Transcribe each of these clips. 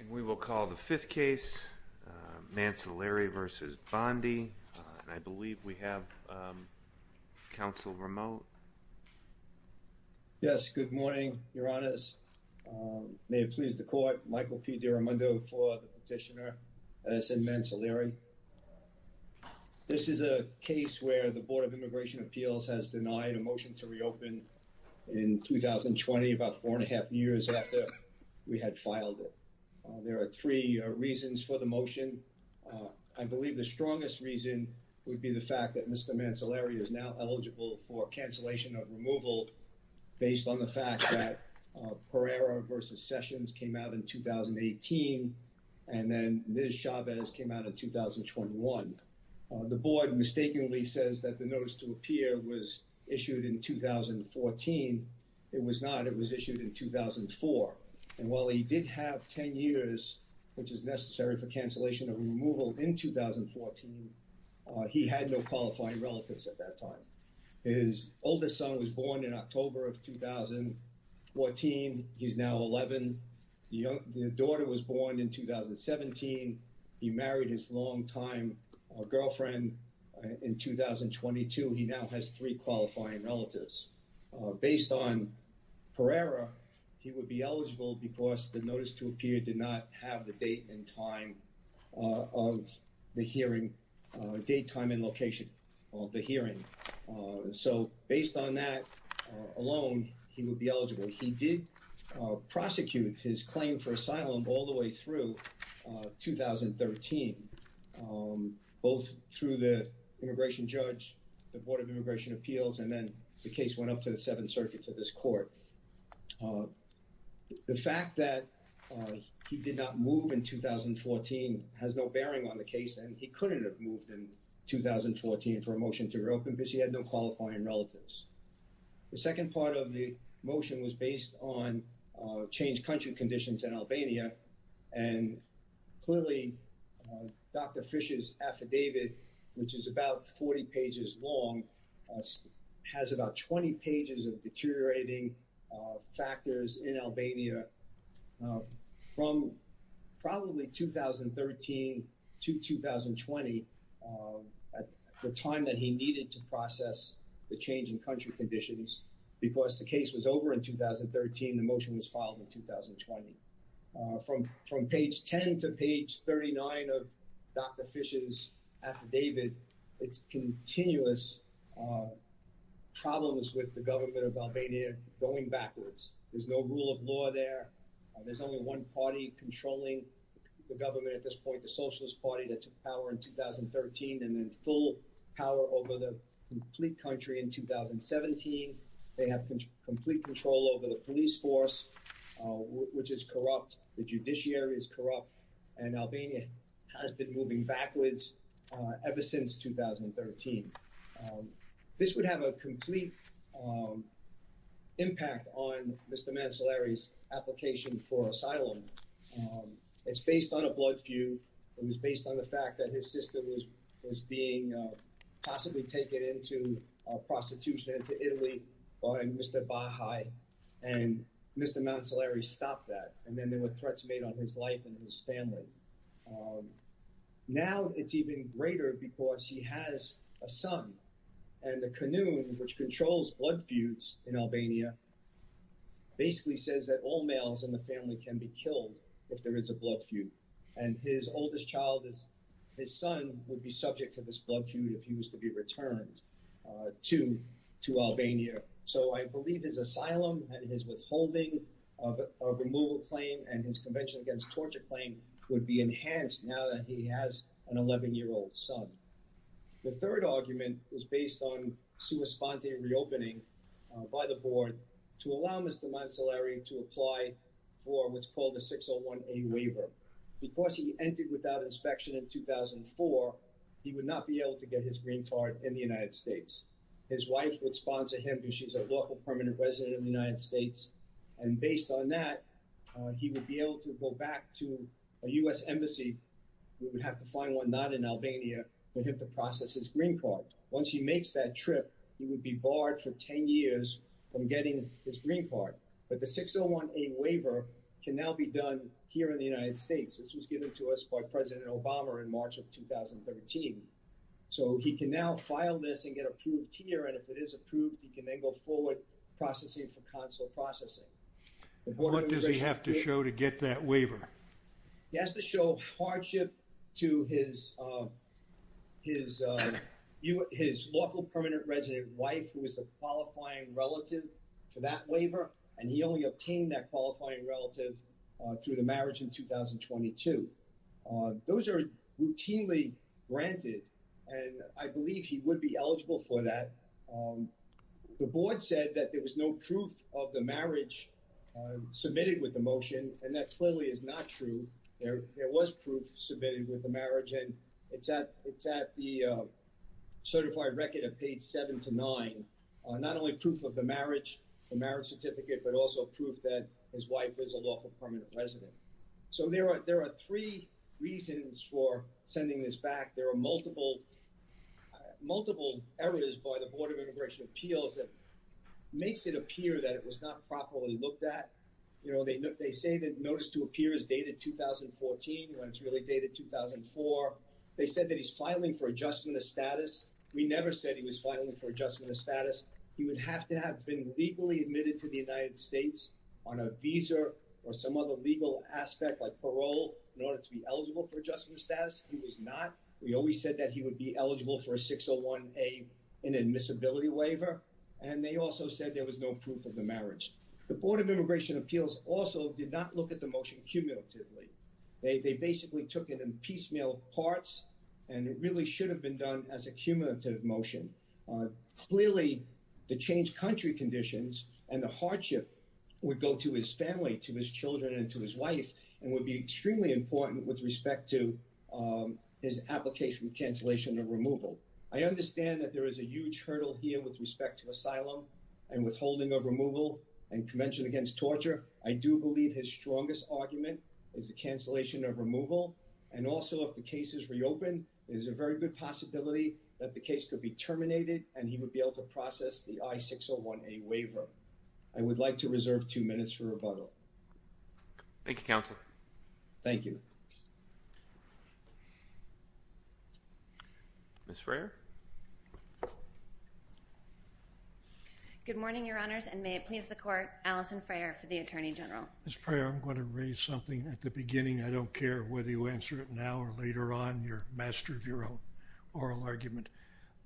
And we will call the fifth case, Mancellari v. Bondi, and I believe we have counsel remote. Yes, good morning, your honors. May it please the court, Michael P. DiRamundo for the petitioner and SN Mancellari. This is a case where the Board of Immigration Appeals has denied a motion to open in 2020, about four and a half years after we had filed it. There are three reasons for the motion. I believe the strongest reason would be the fact that Mr. Mancellari is now eligible for cancellation of removal based on the fact that Pereira v. Sessions came out in 2018 and then Ms. Chavez came out in 2021. The board mistakenly says that the notice to appear was issued in 2014. It was not, it was issued in 2004. And while he did have 10 years, which is necessary for cancellation of removal in 2014, he had no qualifying relatives at that time. His oldest son was born in October of 2014. He's now 11. The daughter was born in 2017. He married his longtime girlfriend in 2022. He now has three qualifying relatives. Based on Pereira, he would be eligible because the notice to appear did not have the date and time of the hearing, date, time, and location of the hearing. So based on that alone, he would be eligible. He did prosecute his claim for asylum all the way through 2013, both through the immigration judge, the Board of Immigration Appeals, and then the case went up to the Seventh Circuit to this court. The fact that he did not move in 2014 has no bearing on the case, and he couldn't have moved in 2014 for a motion to reopen because he had no qualifying relatives. The second part of the motion was based on changed country conditions in Albania. And clearly, Dr. Fisher's affidavit, which is about 40 pages long, has about 20 pages of deteriorating factors in Albania from probably 2013 to 2020, the time that he needed to process the change in country conditions, because the case was over in 2013, the motion was filed in 2020. From page 10 to page 39 of Dr. Fisher's affidavit, it's continuous problems with the government of Albania going backwards. There's no rule of law there. There's only one party controlling the government at this point, the Socialist Party that took power in 2013 and then full power over the complete country in 2017. They have complete control over the police force, which is corrupt. The judiciary is corrupt, and Albania has been moving backwards ever since 2013. This would have a complete impact on Mr. Mancellari's application for asylum. It's based on a blood feud. It was based on the fact that his sister was being possibly taken into prostitution into Italy by Mr. Bahai, and Mr. Mancellari stopped that. And then there were threats made on his life and his family. Now it's even greater because he has a son, and the Canoon, which controls blood feuds in Albania, basically says that all males in the family can be killed if there is a blood feud. And his oldest child, his son, would be subject to this blood feud if he was to be returned to Albania. So I believe his asylum and his withholding of removal claim and his Convention Against Torture claim would be enhanced now that he has an 11-year-old son. The third argument was based on sua sponte reopening by the board to allow Mr. Mancellari to apply for what's called the 601A waiver. Because he entered without inspection in 2004, he would not be able to get his green card in the United States. His wife would sponsor him because she's a lawful permanent resident of the United States, and based on that, he would be able to go back to a U.S. embassy. He would have to find one not in Albania, but he'd have to process his green card. Once he makes that trip, he would be barred for 10 years from getting his green card. But the 601A waiver can now be done here in the United States. This was given to us by President Obama in March of 2013. So he can now file this and get approved here, and if it is approved, he can then go forward processing for consular processing. What does he have to show to get that waiver? He has to show hardship to his lawful permanent resident wife, who is the qualifying relative for that waiver, and he only obtained that qualifying relative through the marriage in 2022. Those are routinely granted, and I believe he would be eligible for that. The board said that there was no proof of the marriage submitted with the motion, and that clearly is not true. There was proof submitted with the marriage, and it's at the certified record of page 7 to 9, not only proof of the marriage, the marriage certificate, but also proof that his wife is a lawful permanent resident. So there are three reasons for sending this back. There are multiple errors by the Board of Immigration Appeals that makes it appear that it was not properly looked at. You know, they say that notice to appear is dated 2014, when it's really dated 2004. They said that he's filing for adjustment of status. We never said he was filing for adjustment of status. He would have to have been legally admitted to the United States on a visa or some other legal aspect, like parole, in order to be eligible for adjustment of status. He was not. We always said that he would be eligible for a 601A inadmissibility waiver, and they also said there was no proof of the marriage. The Board of Immigration Appeals also did not look at the motion cumulatively. They basically took it in piecemeal parts, and it really should have been done as a cumulative motion. Clearly, the changed country conditions and the hardship would go to his family, to his children, and to his wife, and would be extremely important with respect to his application cancellation of removal. I understand that there is a huge hurdle here with respect to asylum and withholding of removal and convention against torture. I do believe his strongest argument is the cancellation of removal, and also if the case is reopened, there's a very good possibility that the case could be terminated and he would be able to process the I-601A waiver. I would like to reserve two minutes for rebuttal. Thank you, Counselor. Thank you. Ms. Frayer? Good morning, Your Honors, and may it please the Court, Alison Frayer for the Attorney General. Ms. Frayer, I'm going to raise something at the beginning. I don't care whether you answer it now or later on. You're a master of your own oral argument.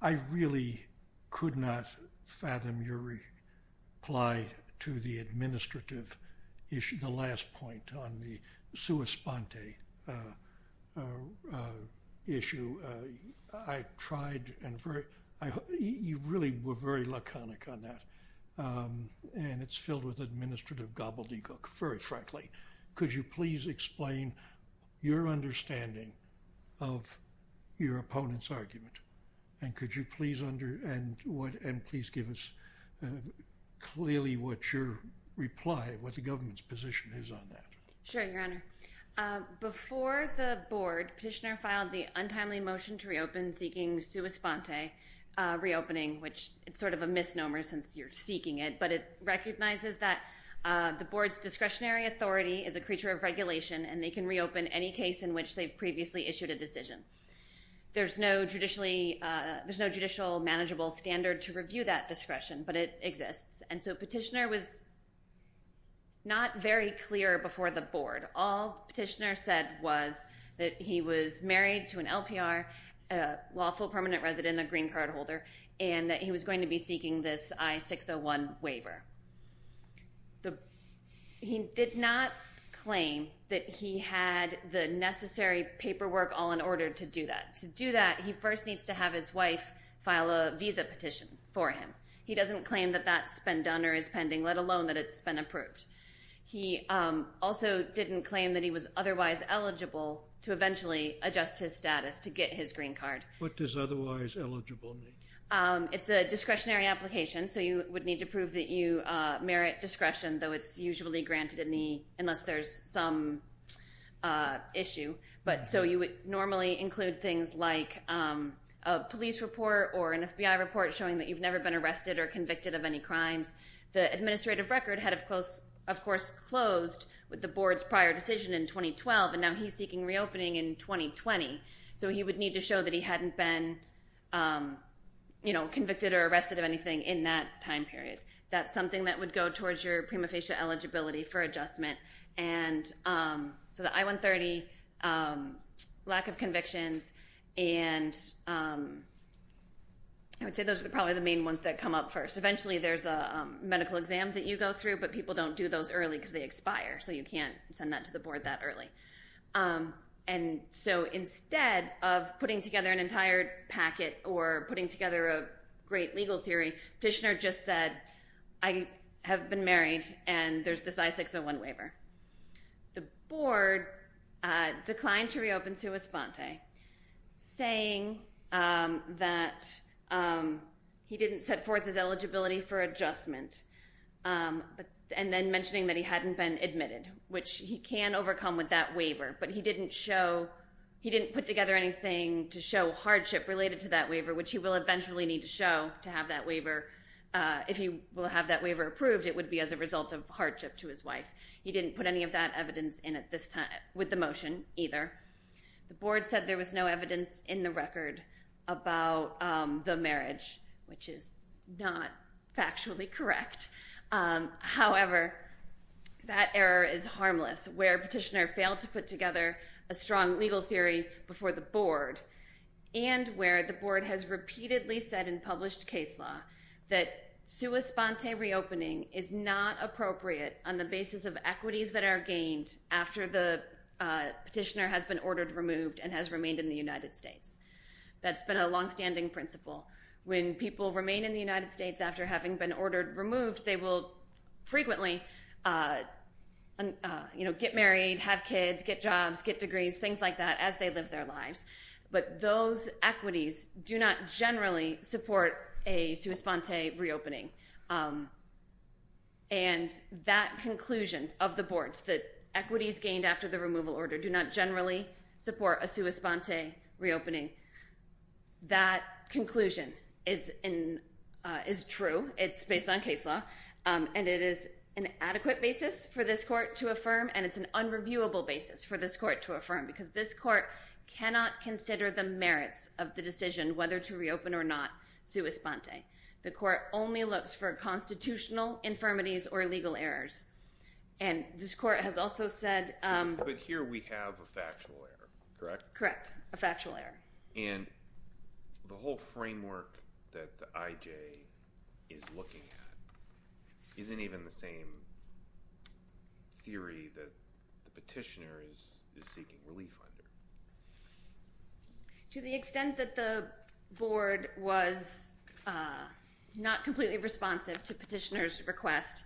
I really could not fathom your reply to the administrative issue, the last point on the sua sponte issue. You really were very laconic on that, and it's filled with administrative gobbledygook, very frankly. Could you please explain your understanding of your opponent's argument, and could you please give us clearly what your reply, what the government's position is on that? Sure, Your Honor. Before the Board, Petitioner filed the untimely motion to reopen seeking sua sponte reopening, which it's sort of a misnomer since you're seeking it, but it recognizes that the Board's discretionary authority is a creature of regulation, and they can reopen any case in which they've previously issued a decision. There's no judicial manageable standard to review that discretion, but it exists, and so Petitioner was not very clear before the Board. All Petitioner said was that he was married to an LPR, a lawful permanent resident, a green card and that he was going to be seeking this I-601 waiver. He did not claim that he had the necessary paperwork all in order to do that. To do that, he first needs to have his wife file a visa petition for him. He doesn't claim that that's been done or is pending, let alone that it's been approved. He also didn't claim that he was otherwise eligible to eventually adjust his status to his green card. What does otherwise eligible mean? It's a discretionary application, so you would need to prove that you merit discretion, though it's usually granted unless there's some issue. You would normally include things like a police report or an FBI report showing that you've never been arrested or convicted of any crimes. The administrative record had, of course, closed with the Board's prior decision in 2012, and now he's seeking reopening in 2020, so he would need to show that he hadn't been convicted or arrested of anything in that time period. That's something that would go towards your prima facie eligibility for adjustment. So the I-130, lack of convictions, and I would say those are probably the main ones that come up first. Eventually, there's a medical exam that you go through, but people don't do those early because they expire, so you can't send that to the Board that early. And so instead of putting together an entire packet or putting together a great legal theory, Fishner just said, I have been married and there's this I-601 waiver. The Board declined to reopen Sua Sponte, saying that he didn't set forth his eligibility for adjustment, and then mentioning that he hadn't been admitted, which he can overcome with that waiver, but he didn't show, he didn't put together anything to show hardship related to that waiver, which he will eventually need to show to have that waiver. If he will have that waiver approved, it would be as a result of hardship to his wife. He didn't put any of that evidence in at this time with the motion either. The Board said there was no evidence in the record about the marriage, which is not factually correct. However, that error is harmless where Petitioner failed to put together a strong legal theory before the Board, and where the Board has repeatedly said in published case law that Sua Sponte reopening is not appropriate on the basis of equities that are gained after the Petitioner has been ordered removed and has remained in the United States. That's been a long-standing principle. When people remain in the United States after having been ordered removed, they will frequently get married, have kids, get jobs, get degrees, things like that, as they live their lives. But those equities do not generally support a Sua Sponte reopening. And that conclusion of the Board's, that equities gained after the Petitioner has been ordered removed, that conclusion is true. It's based on case law. And it is an adequate basis for this Court to affirm, and it's an unreviewable basis for this Court to affirm, because this Court cannot consider the merits of the decision whether to reopen or not Sua Sponte. The Court only looks for constitutional infirmities or legal errors. And this Court has also said... But here we have a factual error, correct? Correct, a factual error. And the whole framework that the IJ is looking at isn't even the same theory that the Petitioner is seeking relief under. To the extent that the Board was not completely responsive to Petitioner's request,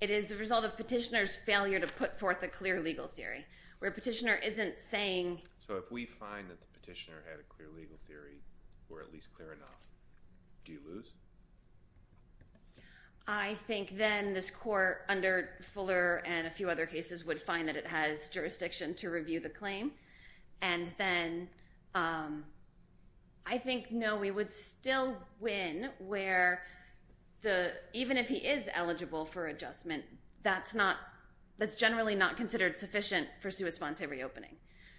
it is the result of Petitioner's failure to put forth a clear legal theory, where Petitioner isn't saying... So if we find that the Petitioner had a clear legal theory, or at least clear enough, do you lose? I think then this Court under Fuller and a few other cases would find that it has jurisdiction to review the claim. And then I think, no, we would still win where the... Even if he is eligible for adjustment, that's not... That's generally not considered sufficient for Sua Sponte reopening.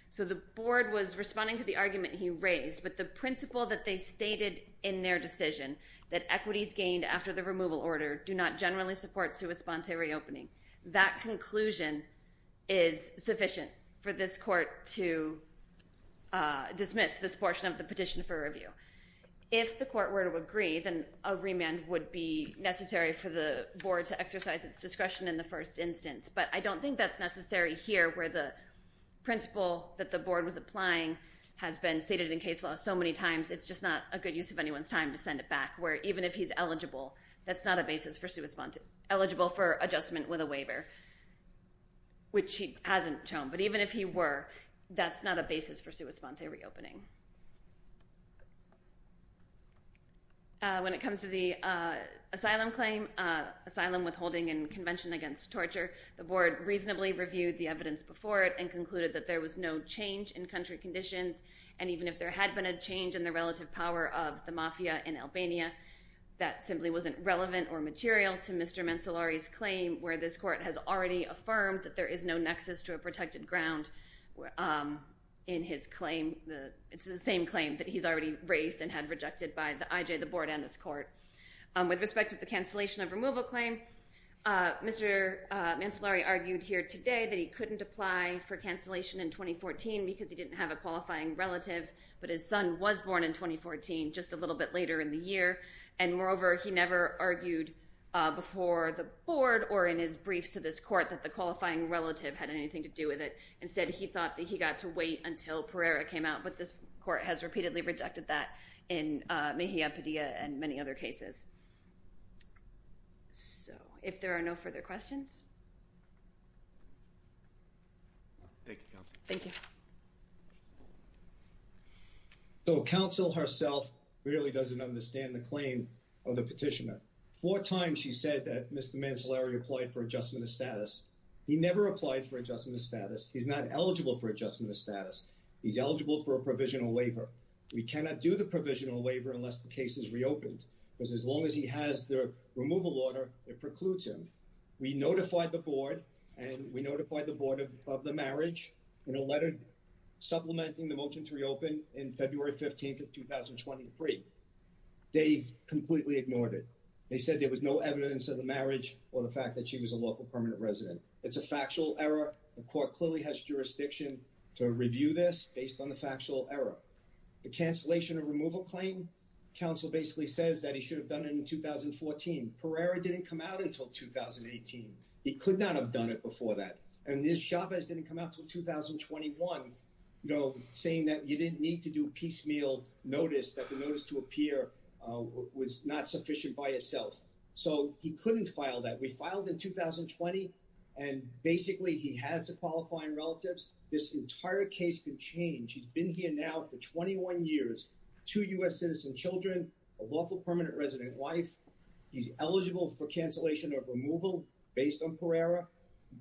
So the Board was responding to the argument he raised, but the principle that they stated in their decision, that equities gained after the removal order do not generally support Sua Sponte reopening, that conclusion is sufficient for this Court to dismiss this portion of the petition for review. If the Court were to agree, then a remand would be necessary for the Board to exercise its discretion in the first instance. But I don't think that's necessary here, where the principle that the Board was applying has been stated in case law so many times, it's just not a good use of anyone's time to send it back, where even if he's eligible, that's not a basis for Sua Sponte... Eligible for adjustment with a waiver, which he hasn't shown. But even if he were, that's not a basis for Sua Sponte reopening. When it comes to the asylum claim, asylum withholding and convention against torture, the Board reasonably reviewed the evidence before it and concluded that there was no change in country conditions. And even if there had been a change in the relative power of the Mafia in Albania, that simply wasn't relevant or material to Mr. Mancellari's claim, where this Court has already affirmed that there is no nexus to a protected ground in his claim. It's the same claim that he's already raised and had rejected by the IJ, the Board, and this Court. With respect to the cancellation of removal claim, Mr. Mancellari argued here today that he couldn't apply for cancellation in 2014 because he didn't have a qualifying relative, but his son was born in 2014, just a little bit later in the year. And moreover, he never argued before the Board or in his briefs to this Court that the qualifying relative had anything to do with it. Instead, he thought that he got to wait until Pereira came out, but this Court has repeatedly rejected that in Mejia-Padilla and many other cases. So, if there are no further questions? Thank you, Counsel. Thank you. So, Counsel herself really doesn't understand the claim of the petitioner. Four times she said that Mr. Mancellari applied for adjustment of status. He never applied for adjustment of status. He's not eligible for adjustment of status. He's eligible for a provisional waiver. We cannot do the provisional waiver unless the case is reopened, because as long as he has the removal order, it precludes him. We notified the Board, and we notified the Board of the marriage in a letter supplementing the motion to reopen in February 15th of 2023. They completely ignored it. They said there was no evidence of the marriage or the fact that she was a local permanent resident. It's a factual error. The Court clearly has jurisdiction to review this based on the factual error. The cancellation of removal claim, Counsel basically says that he should have done it in 2014. Pereira didn't come out until 2018. He could not have done it before that. And Ms. Chavez didn't come out until 2021, you know, saying that you didn't need to do piecemeal notice, that the notice to appear was not sufficient by itself. So, he couldn't file that. We filed in 2020, and basically, he has the qualifying relatives. This entire case could change. He's been here now for 21 years, two U.S. citizen children, a lawful permanent resident wife. He's eligible for cancellation of removal based on Pereira.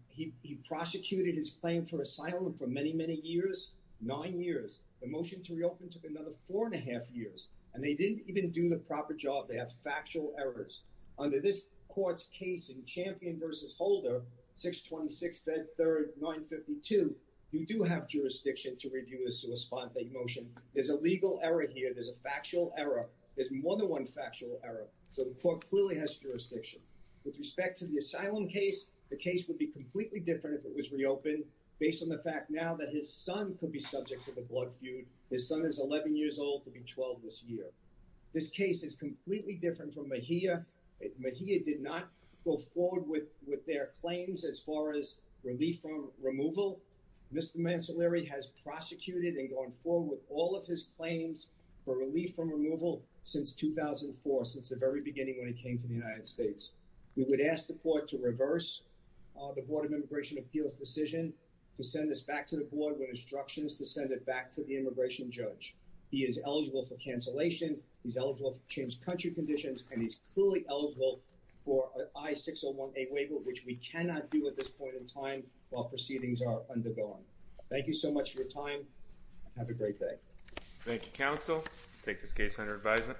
He prosecuted his claim for asylum for many, many years, nine years. The motion to reopen took another four and a half years, and they didn't even do the proper job. They have factual errors. Under this Court's case in Champion v. Holder, 626.3.952, you do have jurisdiction to review the motion. There's a legal error here. There's a factual error. There's more than one factual error. So, the Court clearly has jurisdiction. With respect to the asylum case, the case would be completely different if it was reopened based on the fact now that his son could be subject to the blood feud. His son is 11 years old. He'll be 12 this year. This case is completely different from Mejia. Mejia did not go forward with their claims as far as relief from removal. Mr. Mancellari has prosecuted and gone forward with all of his claims for relief from removal since 2004, since the very beginning when he came to the United States. We would ask the Court to reverse the Board of Immigration Appeals' decision to send this back to the Board with instructions to send it back to the immigration judge. He is eligible for cancellation. He's eligible for changed country conditions, and he's clearly eligible for I-601A waiver, which we cannot do at this point in time while proceedings are undergoing. Thank you so much for your time. Have a great day. Thank you, counsel. Take this case under advisement.